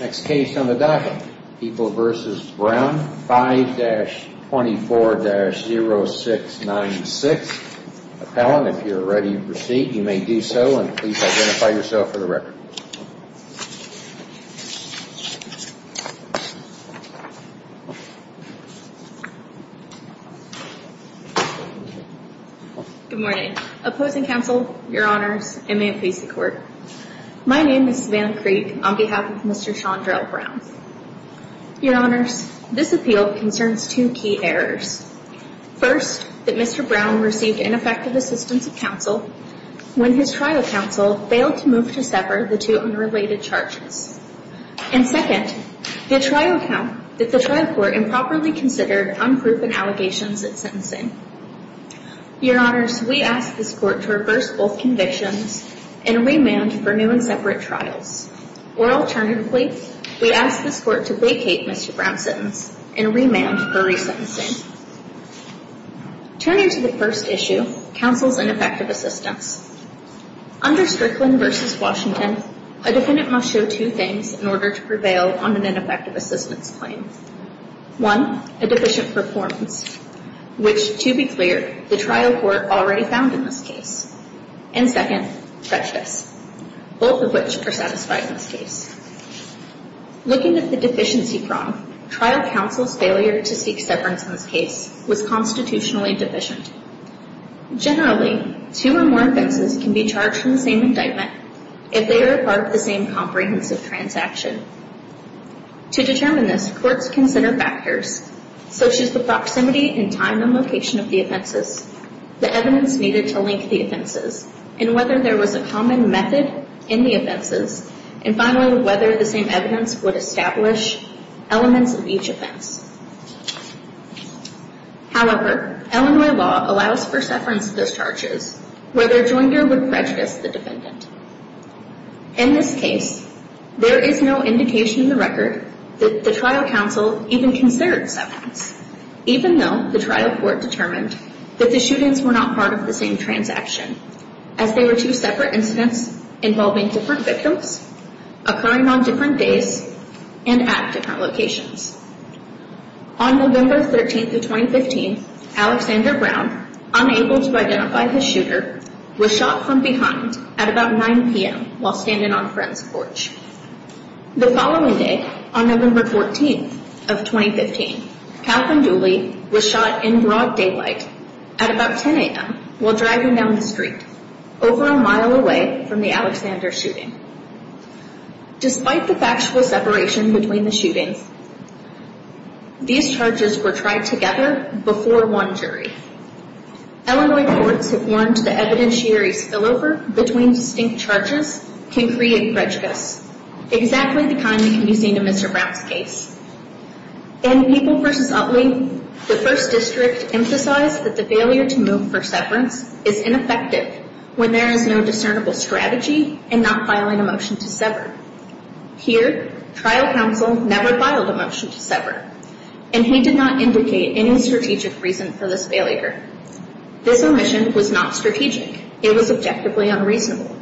Next case on the docket, People v. Brown, 5-24-0696. Appellant, if you are ready to proceed, you may do so, and please identify yourself for the record. Good morning. Opposing counsel, your honors, and may it please the court. My name is Savannah Creek on behalf of Mr. Shondrell Brown. Your honors, this appeal concerns two key errors. First, that Mr. Brown received ineffective assistance of counsel when his trial counsel failed to move to sever the two unrelated charges. And second, that the trial court improperly considered unproven allegations at sentencing. Your honors, we ask this court to reverse both convictions and remand for new and separate trials. Or alternatively, we ask this court to vacate Mr. Brown's sentence and remand for resentencing. Turning to the first issue, counsel's ineffective assistance. Under Strickland v. Washington, a defendant must show two things in order to prevail on an ineffective assistance claim. One, a deficient performance, which, to be clear, the trial court already found in this case. And second, prejudice, both of which are satisfied in this case. Looking at the deficiency prong, trial counsel's failure to seek severance in this case was constitutionally deficient. Generally, two or more offenses can be charged from the same indictment if they are part of the same comprehensive transaction. To determine this, courts consider factors such as the proximity and time and location of the offenses, the evidence needed to link the offenses, and whether there was a common method in the offenses, and finally, whether the same evidence would establish elements of each offense. However, Illinois law allows for severance discharges where the rejoinder would prejudice the defendant. In this case, there is no indication in the record that the trial counsel even considered severance, even though the trial court determined that the shootings were not part of the same transaction, as they were two separate incidents involving different victims, occurring on different days, and at different locations. On November 13th of 2015, Alexander Brown, unable to identify his shooter, was shot from behind at about 9 p.m. while standing on Friends Porch. The following day, on November 14th of 2015, Kathryn Dooley was shot in broad daylight at about 10 a.m. while driving down the street, over a mile away from the Alexander shooting. Despite the factual separation between the shootings, these charges were tried together before one jury. Illinois courts have warned that evidentiaries spillover between distinct charges can create prejudice, exactly the kind that can be seen in Mr. Brown's case. In People v. Utley, the First District emphasized that the failure to move for severance is ineffective when there is no discernible strategy in not filing a motion to sever. Here, trial counsel never filed a motion to sever, and he did not indicate any strategic reason for this failure. This omission was not strategic. It was objectively unreasonable.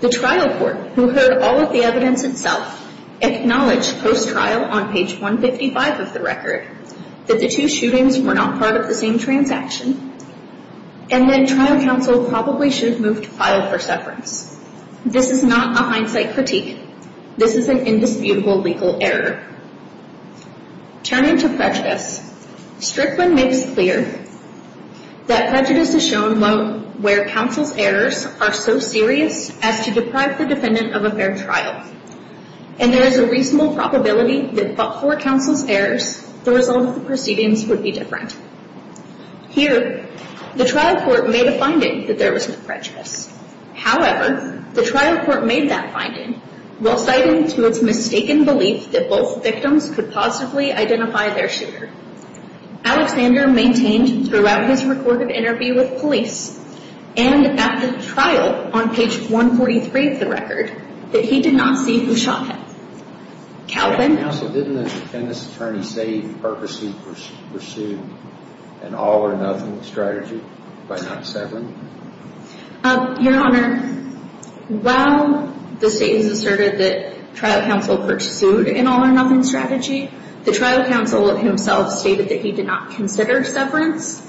The trial court, who heard all of the evidence itself, acknowledged post-trial on page 155 of the record that the two shootings were not part of the same transaction, and that trial counsel probably should have moved to file for severance. This is not a hindsight critique. This is an indisputable legal error. Turning to prejudice, Strickland makes clear that prejudice is shown where counsel's errors are so serious as to deprive the defendant of a fair trial, and there is a reasonable probability that but for counsel's errors, the result of the proceedings would be different. Here, the trial court made a finding that there was no prejudice. However, the trial court made that finding while citing to its mistaken belief that both victims could positively identify their shooter. Alexander maintained throughout his recorded interview with police and at the trial on page 143 of the record that he did not see who shot him. Counsel, didn't the defendant's attorney say he purposely pursued an all-or-nothing strategy by not severing? Your Honor, while the state has asserted that trial counsel pursued an all-or-nothing strategy, the trial counsel himself stated that he did not consider severance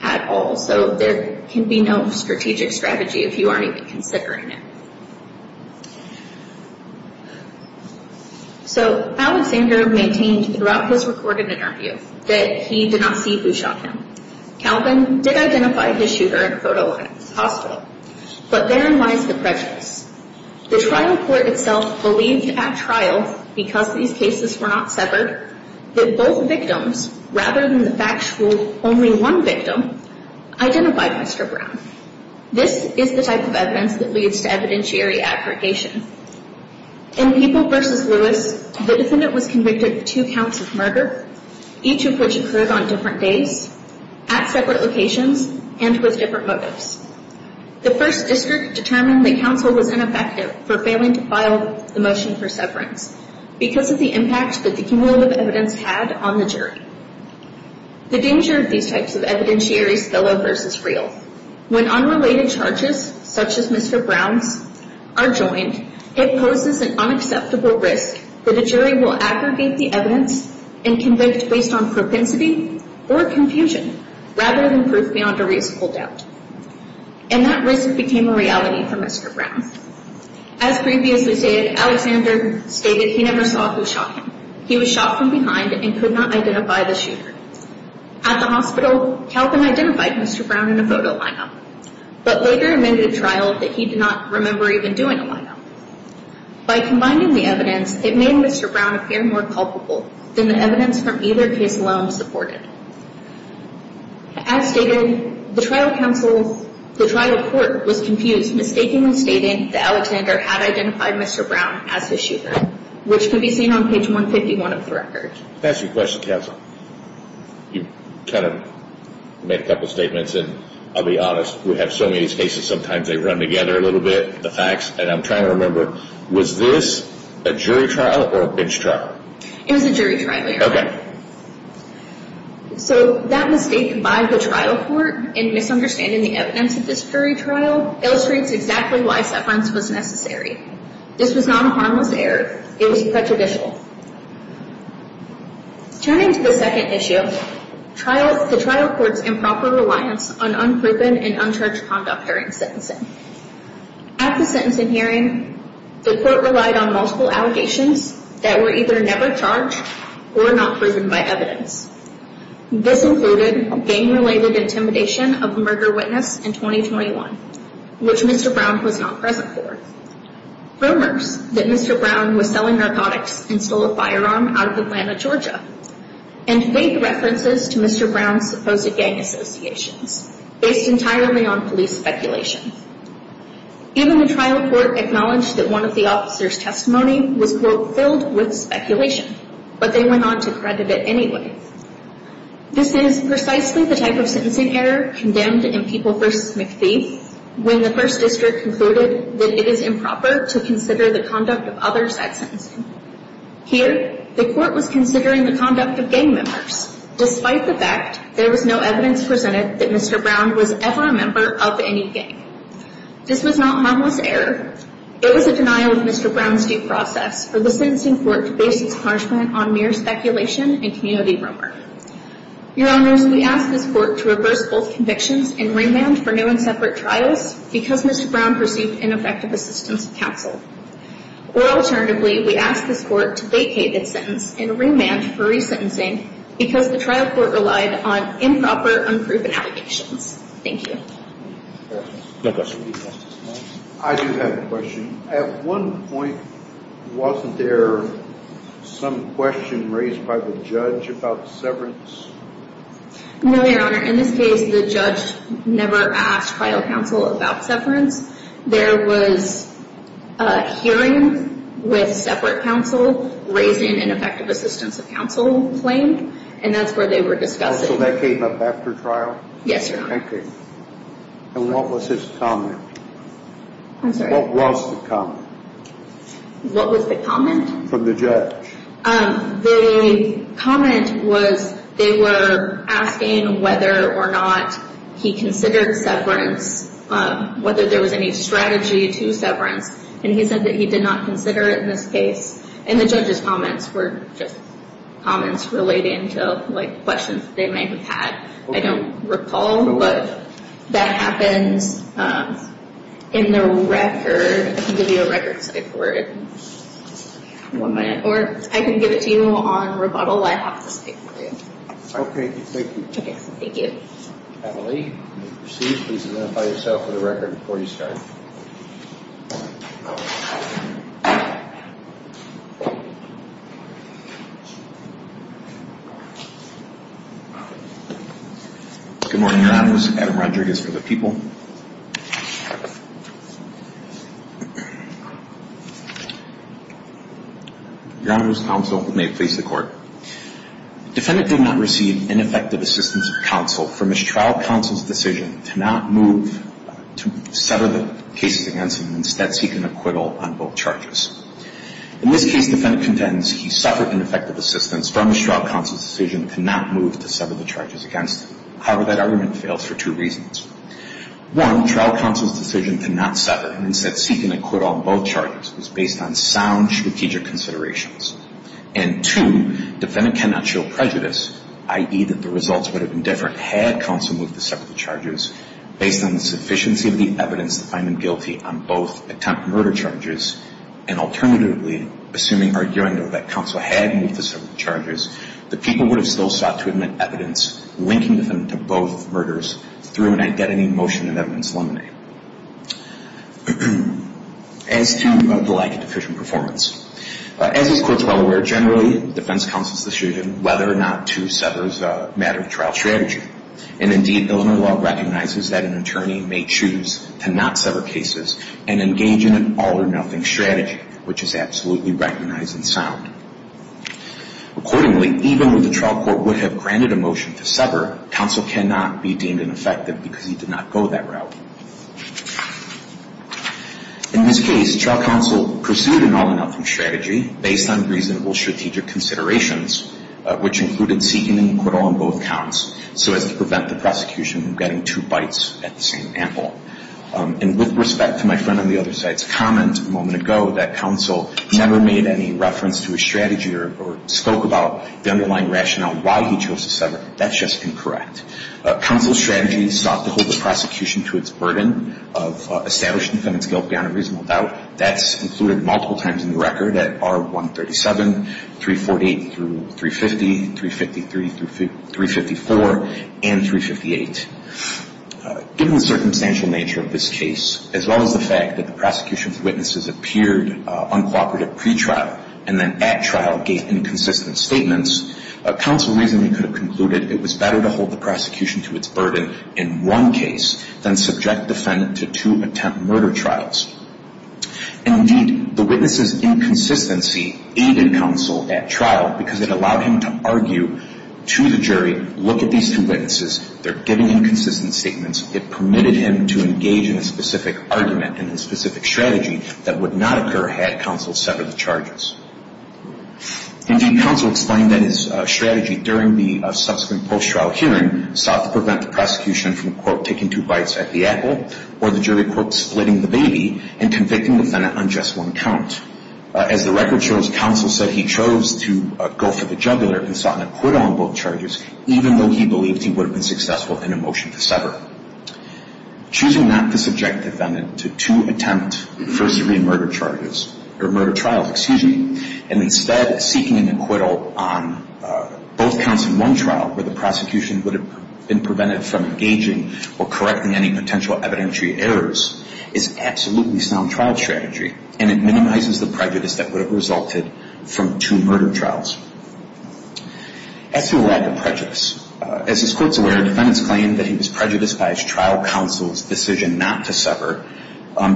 at all, so there can be no strategic strategy if you aren't even considering it. So, Alexander maintained throughout his recorded interview that he did not see who shot him. Calvin did identify his shooter in a photo at the hospital, but therein lies the prejudice. The trial court itself believed at trial, because these cases were not severed, that both victims, rather than the fact that only one victim, identified Mr. Brown. This is the type of evidence that leads to evidentiary aggregation. In Peeble v. Lewis, the defendant was convicted of two counts of murder, each of which occurred on different days, at separate locations, and with different motives. The First District determined that counsel was ineffective for failing to file the motion for severance because of the impact that the cumulative evidence had on the jury. The danger of these types of evidentiaries fellow versus real. When unrelated charges, such as Mr. Brown's, are joined, it poses an unacceptable risk that a jury will aggregate the evidence and convict based on propensity or confusion, rather than proof beyond a reasonable doubt. And that risk became a reality for Mr. Brown. As previously stated, Alexander stated he never saw who shot him. He was shot from behind and could not identify the shooter. At the hospital, Calvin identified Mr. Brown in a photo lineup, but later amended a trial that he did not remember even doing a lineup. By combining the evidence, it made Mr. Brown appear more culpable than the evidence from either case alone supported. As stated, the trial court was confused, mistakenly stating that Alexander had identified Mr. Brown as his shooter, which can be seen on page 151 of the record. Can I ask you a question, Councilwoman? You kind of made a couple of statements, and I'll be honest, we have so many of these cases, sometimes they run together a little bit, the facts, and I'm trying to remember, was this a jury trial or a bench trial? It was a jury trial, Your Honor. Okay. So that mistake by the trial court in misunderstanding the evidence of this jury trial illustrates exactly why separance was necessary. This was not a harmless error. It was prejudicial. Turning to the second issue, the trial court's improper reliance on unproven and uncharged conduct during sentencing. At the sentencing hearing, the court relied on multiple allegations that were either never charged or not proven by evidence. This included gang-related intimidation of a murder witness in 2021, which Mr. Brown was not present for, rumors that Mr. Brown was selling narcotics and stole a firearm out of Atlanta, Georgia, and vague references to Mr. Brown's supposed gang associations, based entirely on police speculation. Even the trial court acknowledged that one of the officers' testimony was, quote, filled with speculation, but they went on to credit it anyway. This is precisely the type of sentencing error condemned in People v. McPhee when the first district concluded that it is improper to consider the conduct of others at sentencing. Here, the court was considering the conduct of gang members. Despite the fact there was no evidence presented that Mr. Brown was ever a member of any gang. This was not a harmless error. It was a denial of Mr. Brown's due process for the sentencing court to base its punishment on mere speculation and community rumor. Your Honors, we ask this court to reverse both convictions and remand for new and separate trials because Mr. Brown pursued ineffective assistance of counsel. Or alternatively, we ask this court to vacate its sentence and remand for resentencing because the trial court relied on improper, unproven allegations. Thank you. No questions. I do have a question. At one point, wasn't there some question raised by the judge about severance? No, Your Honor. In this case, the judge never asked trial counsel about severance. There was a hearing with separate counsel raising ineffective assistance of counsel claim, and that's where they were discussing. So that came up after trial? Yes, Your Honor. Okay. And what was his comment? I'm sorry. What was the comment? What was the comment? From the judge. The comment was they were asking whether or not he considered severance, whether there was any strategy to severance. And he said that he did not consider it in this case. And the judge's comments were just comments relating to, like, questions they may have had. I don't recall, but that happens in the record. I can give you a record site for it in one minute. Or I can give it to you on rebuttal. I have the site for you. Okay. Thank you. Okay. Thank you. Emily, you may proceed. Please identify yourself for the record before you start. Good morning, Your Honor. This is Adam Roderick. It's for the people. Your Honor, this counsel may face the court. Defendant did not receive ineffective assistance of counsel for mistrial counsel's decision to not move to sever the cases against him and instead seek an acquittal on both charges. In this case, defendant contends he suffered ineffective assistance from mistrial counsel's decision to not move to sever the charges against him. However, that argument fails for two reasons. One, trial counsel's decision to not sever and instead seek an acquittal on both charges was based on sound strategic considerations. And two, defendant cannot show prejudice, i.e., that the results would have been different had counsel moved to sever the charges based on the sufficiency of the evidence to find him guilty on both attempted murder charges and alternatively, assuming or arguing that counsel had moved to sever the charges, the people would have still sought to admit evidence linking defendant to both murders through an identity motion and evidence limine. As to the lack of efficient performance. As this court is well aware, generally defense counsel's decision whether or not to sever is a matter of trial strategy. And indeed, Illinois law recognizes that an attorney may choose to not sever cases and engage in an all or nothing strategy, which is absolutely recognized and sound. Accordingly, even when the trial court would have granted a motion to sever, counsel cannot be deemed ineffective because he did not go that route. In this case, trial counsel pursued an all or nothing strategy based on reasonable strategic considerations, which included seeking an acquittal on both counts so as to prevent the prosecution from getting two bites at the same apple. And with respect to my friend on the other side's comment a moment ago that counsel never made any reference to his strategy or spoke about the underlying rationale why he chose to sever, that's just incorrect. Counsel's strategy sought to hold the prosecution to its burden of establishing the defendant's guilt beyond a reasonable doubt. That's included multiple times in the record at R137, 348 through 350, 353 through 354, and 358. Given the circumstantial nature of this case, as well as the fact that the prosecution's witnesses appeared uncooperative pretrial and then at trial gave inconsistent statements, counsel reasonably could have concluded it was better to hold the prosecution to its burden in one case than subject the defendant to two attempt murder trials. Indeed, the witness's inconsistency aided counsel at trial because it allowed him to argue to the jury, look at these two witnesses, they're giving inconsistent statements, it permitted him to engage in a specific argument and a specific strategy that would not occur had counsel severed the charges. Indeed, counsel explained that his strategy during the subsequent post-trial hearing sought to prevent the prosecution from, quote, taking two bites at the apple or the jury, quote, splitting the baby and convicting the defendant on just one count. As the record shows, counsel said he chose to go for the juggler and sought to quit on both charges, even though he believed he would have been successful in a motion to sever. Choosing not to subject the defendant to two attempt first-degree murder charges, or murder trials, excuse me, and instead seeking an acquittal on both counts in one trial where the prosecution would have been prevented from engaging or correcting any potential evidentiary errors is absolutely sound trial strategy and it minimizes the prejudice that would have resulted from two murder trials. As to the law of prejudice, as this Court is aware, defendants claim that he was prejudiced by his trial counsel's decision not to sever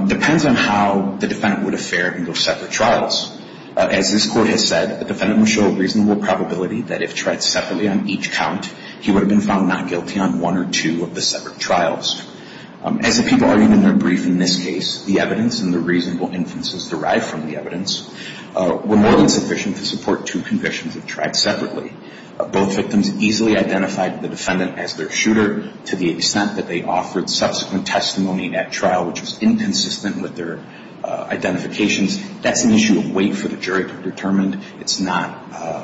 depends on how the defendant would have fared in those separate trials. As this Court has said, the defendant would show a reasonable probability that if tried separately on each count, he would have been found not guilty on one or two of the separate trials. As the people argued in their brief in this case, the evidence and the reasonable inferences derived from the two trials were not enough to support two convictions if tried separately. Both victims easily identified the defendant as their shooter, to the extent that they offered subsequent testimony in that trial, which was inconsistent with their identifications. That's an issue of wait for the jury to determine. It's not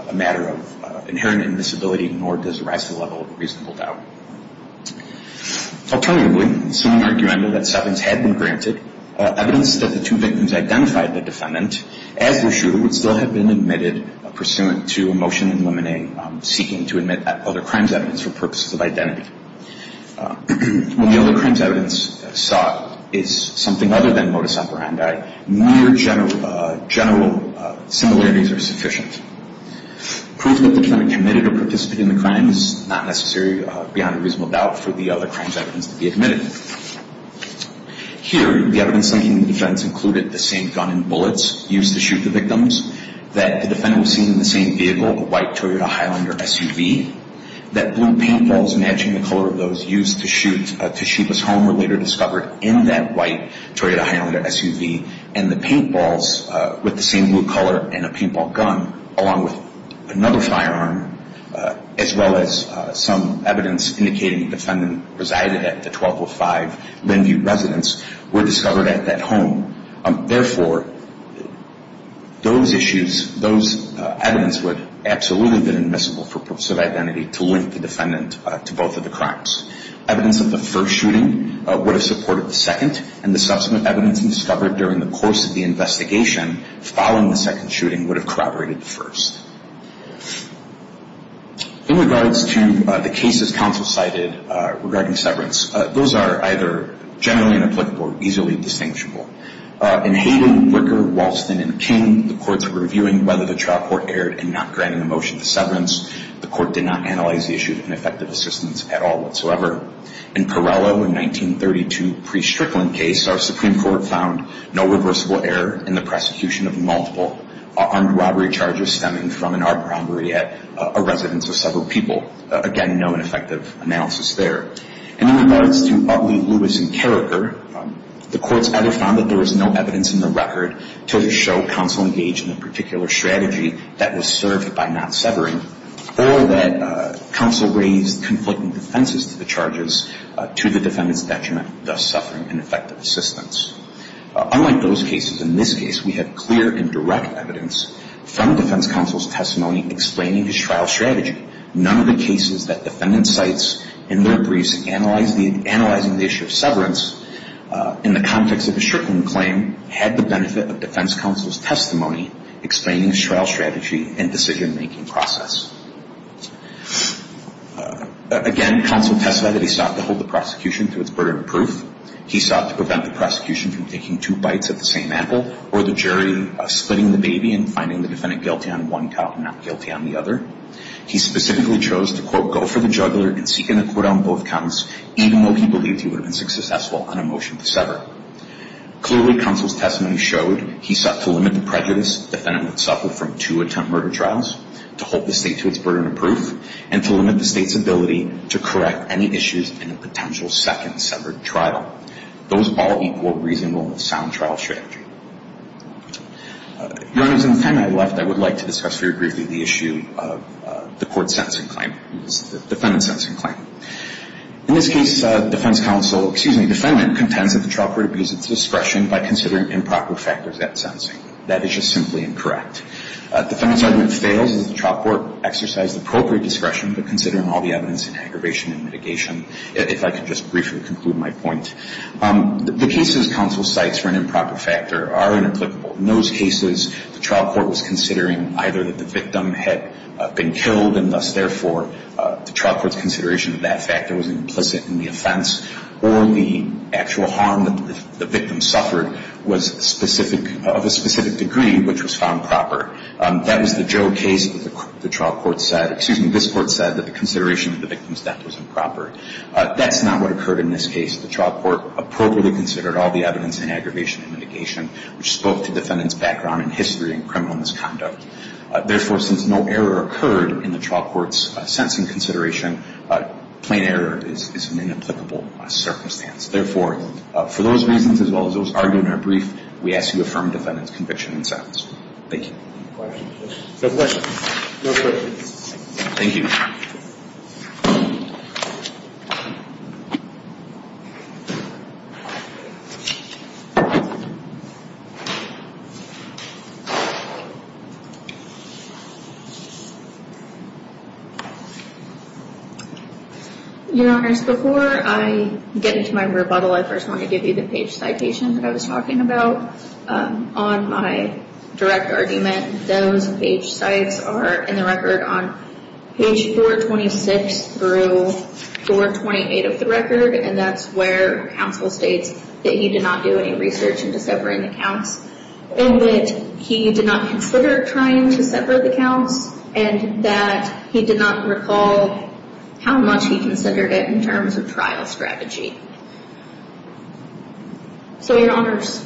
a matter of inherent invisibility, nor does it rise to the level of a reasonable doubt. Alternatively, assuming argument that severance had been granted, evidence that the two victims identified the defendant as their shooter would still have been admitted pursuant to a motion in limine seeking to admit other crimes evidence for purposes of identity. When the only crimes evidence sought is something other than modus operandi, mere general similarities are sufficient. Proving that the defendant committed or participated in the crime is not necessary beyond a reasonable doubt for the other crimes evidence to be admitted. Here, the evidence linking the defense included the same gun and bullets used to shoot the victims, that the defendant was seen in the same vehicle, a white Toyota Highlander SUV, that blue paint balls matching the color of those used to shoot the victim, along with another firearm, as well as some evidence indicating the defendant resided at the 1205 Linview residence, were discovered at that home. Therefore, those issues, those evidence would absolutely have been admissible for purposes of identity to link the defendant to both of the crimes. Evidence of the first shooting would have supported the second, and the subsequent evidence discovered during the course of the investigation following the second shooting would have corroborated the first. In regards to the cases counsel cited regarding severance, those are either generally inapplicable or easily distinguishable. In Hayden, Wicker, Walston, and King, the courts were reviewing whether the trial court erred in not granting a motion to severance. The court did not analyze the issue of ineffective assistance at all whatsoever. In Parello in 1932, pre-Strickland case, our Supreme Court found no reversible error in the prosecution of multiple armed robbery charges stemming from an armed robbery at a residence of several people. Again, no ineffective analysis there. In regards to Utley, Lewis, and Carriker, the courts either found that there was no evidence in the record to show counsel engaged in a particular strategy that was served by not severing, or that counsel raised conflicting defenses to the charges to the defendant's detriment, thus suffering ineffective assistance. Unlike those cases, in this case, we had clear and direct evidence from defense counsel's testimony explaining his trial strategy. Again, counsel testified that he sought to hold the prosecution to its burden of proof. He sought to prevent the prosecution from taking two bites at the same apple, or the jury splitting the baby and finding the defendant guilty on one count and not guilty on the other. He specifically chose to, quote, go for the juggler and seek an acquittal on both counts. Even though he believed he would have been successful on a motion to sever. Clearly, counsel's testimony showed he sought to limit the prejudice the defendant would suffer from two attempted murder trials, to hold the state to its burden of proof, and to limit the state's ability to correct any issues in a potential second severed trial. Those all equal reasonable and sound trial strategy. Your Honors, in the time I have left, I would like to discuss very briefly the issue of the court's sentencing claim, the defendant's sentencing claim. In this case, defense counsel, excuse me, defendant, contends that the trial court abused its discretion by considering improper factors at sentencing. That is just simply incorrect. Defendant's argument fails as the trial court exercised appropriate discretion, but considering all the evidence in aggravation and mitigation, if I could just briefly conclude my point. The cases counsel cites for an improper factor are inapplicable. In those cases, the trial court was considering either that the victim had been killed, and thus, therefore, the trial court's consideration of that factor was implicit in the offense, or the actual harm that the victim suffered was specific, of a specific degree, which was found proper. That was the Joe case that the trial court said, excuse me, this court said that the consideration of the victim's death was improper. That's not what occurred in this case. The trial court appropriately considered all the evidence in aggravation and mitigation, which spoke to defendant's background in history and criminal misconduct. Therefore, since no error occurred in the trial court's sentencing consideration, plain error is an inapplicable circumstance. Therefore, for those reasons, as well as those argued in our brief, we ask you to affirm defendant's conviction and sentence. Thank you. No questions. No questions. Thank you. Your Honors, before I get into my rebuttal, I first want to give you the page citation that I was talking about. On my direct argument, those page cites are in the record on page 426 through 428 of the record, and that's where counsel states that he did not do any research into separating the counts, and that he did not consider trying to separate the counts, and that he did not recall how much he considered it in terms of trial strategy. So, Your Honors,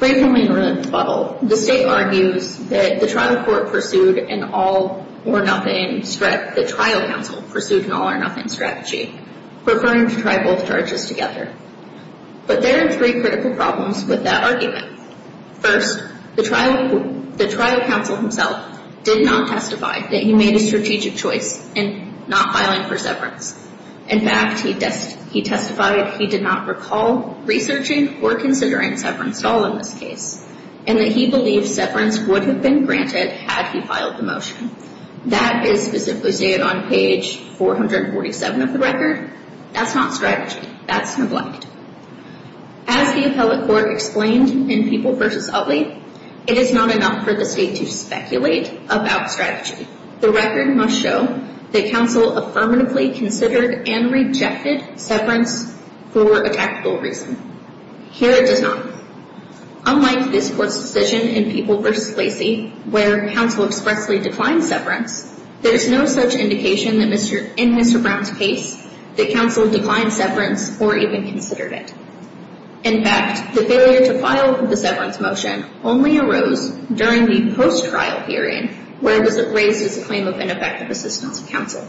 briefly in rebuttal, the State argues that the trial court pursued an all-or-nothing strategy, the trial counsel pursued an all-or-nothing strategy, preferring to try both charges together. But there are three critical problems with that argument. First, the trial counsel himself did not testify that he made a strategic choice in not filing for severance. In fact, he testified he did not recall researching or considering severance at all in this case, and that he believed severance would have been granted had he filed the motion. That is specifically stated on page 447 of the record. That's not strategy. That's neglect. As the appellate court explained in People v. Utley, it is not enough for the State to speculate about strategy. The record must show that counsel affirmatively considered and rejected severance for a tactical reason. Here, it does not. Unlike this Court's decision in People v. Lacey, where counsel expressly declined severance, there is no such indication in Mr. Brown's case that counsel declined severance or even considered it. In fact, the failure to file the severance motion only arose during the post-trial hearing, where it was raised as a claim of ineffective assistance of counsel.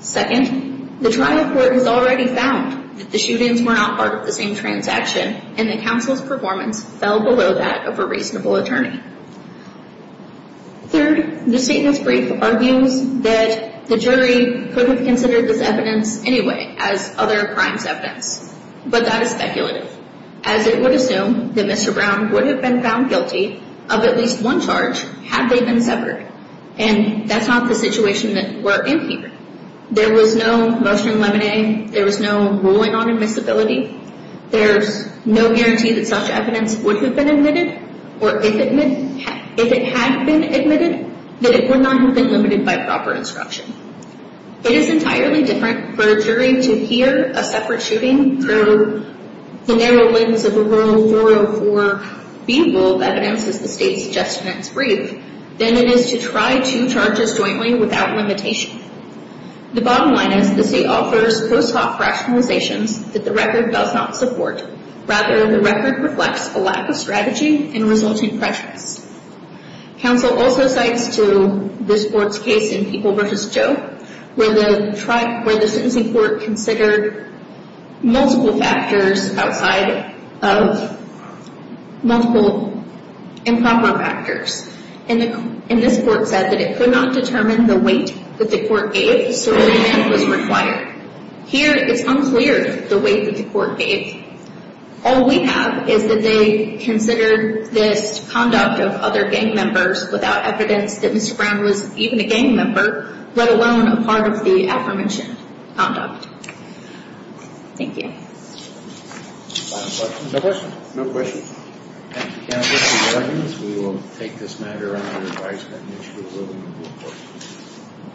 Second, the trial court has already found that the shootings were not part of the same transaction, and that counsel's performance fell below that of a reasonable attorney. Third, the statement's brief argues that the jury could have considered this evidence anyway as other crimes' evidence. But that is speculative, as it would assume that Mr. Brown would have been found guilty of at least one charge had they been severed. And that's not the situation that we're in here. There was no mustard and lemonade. There was no ruling on admissibility. There's no guarantee that such evidence would have been admitted, or if it had been admitted, that it would not have been limited by proper instruction. It is entirely different for a jury to hear a separate shooting through the narrow lens of a rule 404B rule of evidence, as the state's suggestion in its brief, than it is to try two charges jointly without limitation. The bottom line is the state offers post hoc rationalizations that the record does not support. Rather, the record reflects a lack of strategy and resulting prejudice. Counsel also cites to this court's case in People v. Joe, where the sentencing court considered multiple factors outside of multiple improper factors. And this court said that it could not determine the weight that the court gave, so a remand was required. Here, it's unclear the weight that the court gave. All we have is that they considered this conduct of other gang members without evidence that Mr. Brown was even a gang member, let alone a part of the aforementioned conduct. Thank you. Final questions? No questions. No questions. Thank you, counsel. Good morning. We will take this matter under advisory and issue a ruling in the court.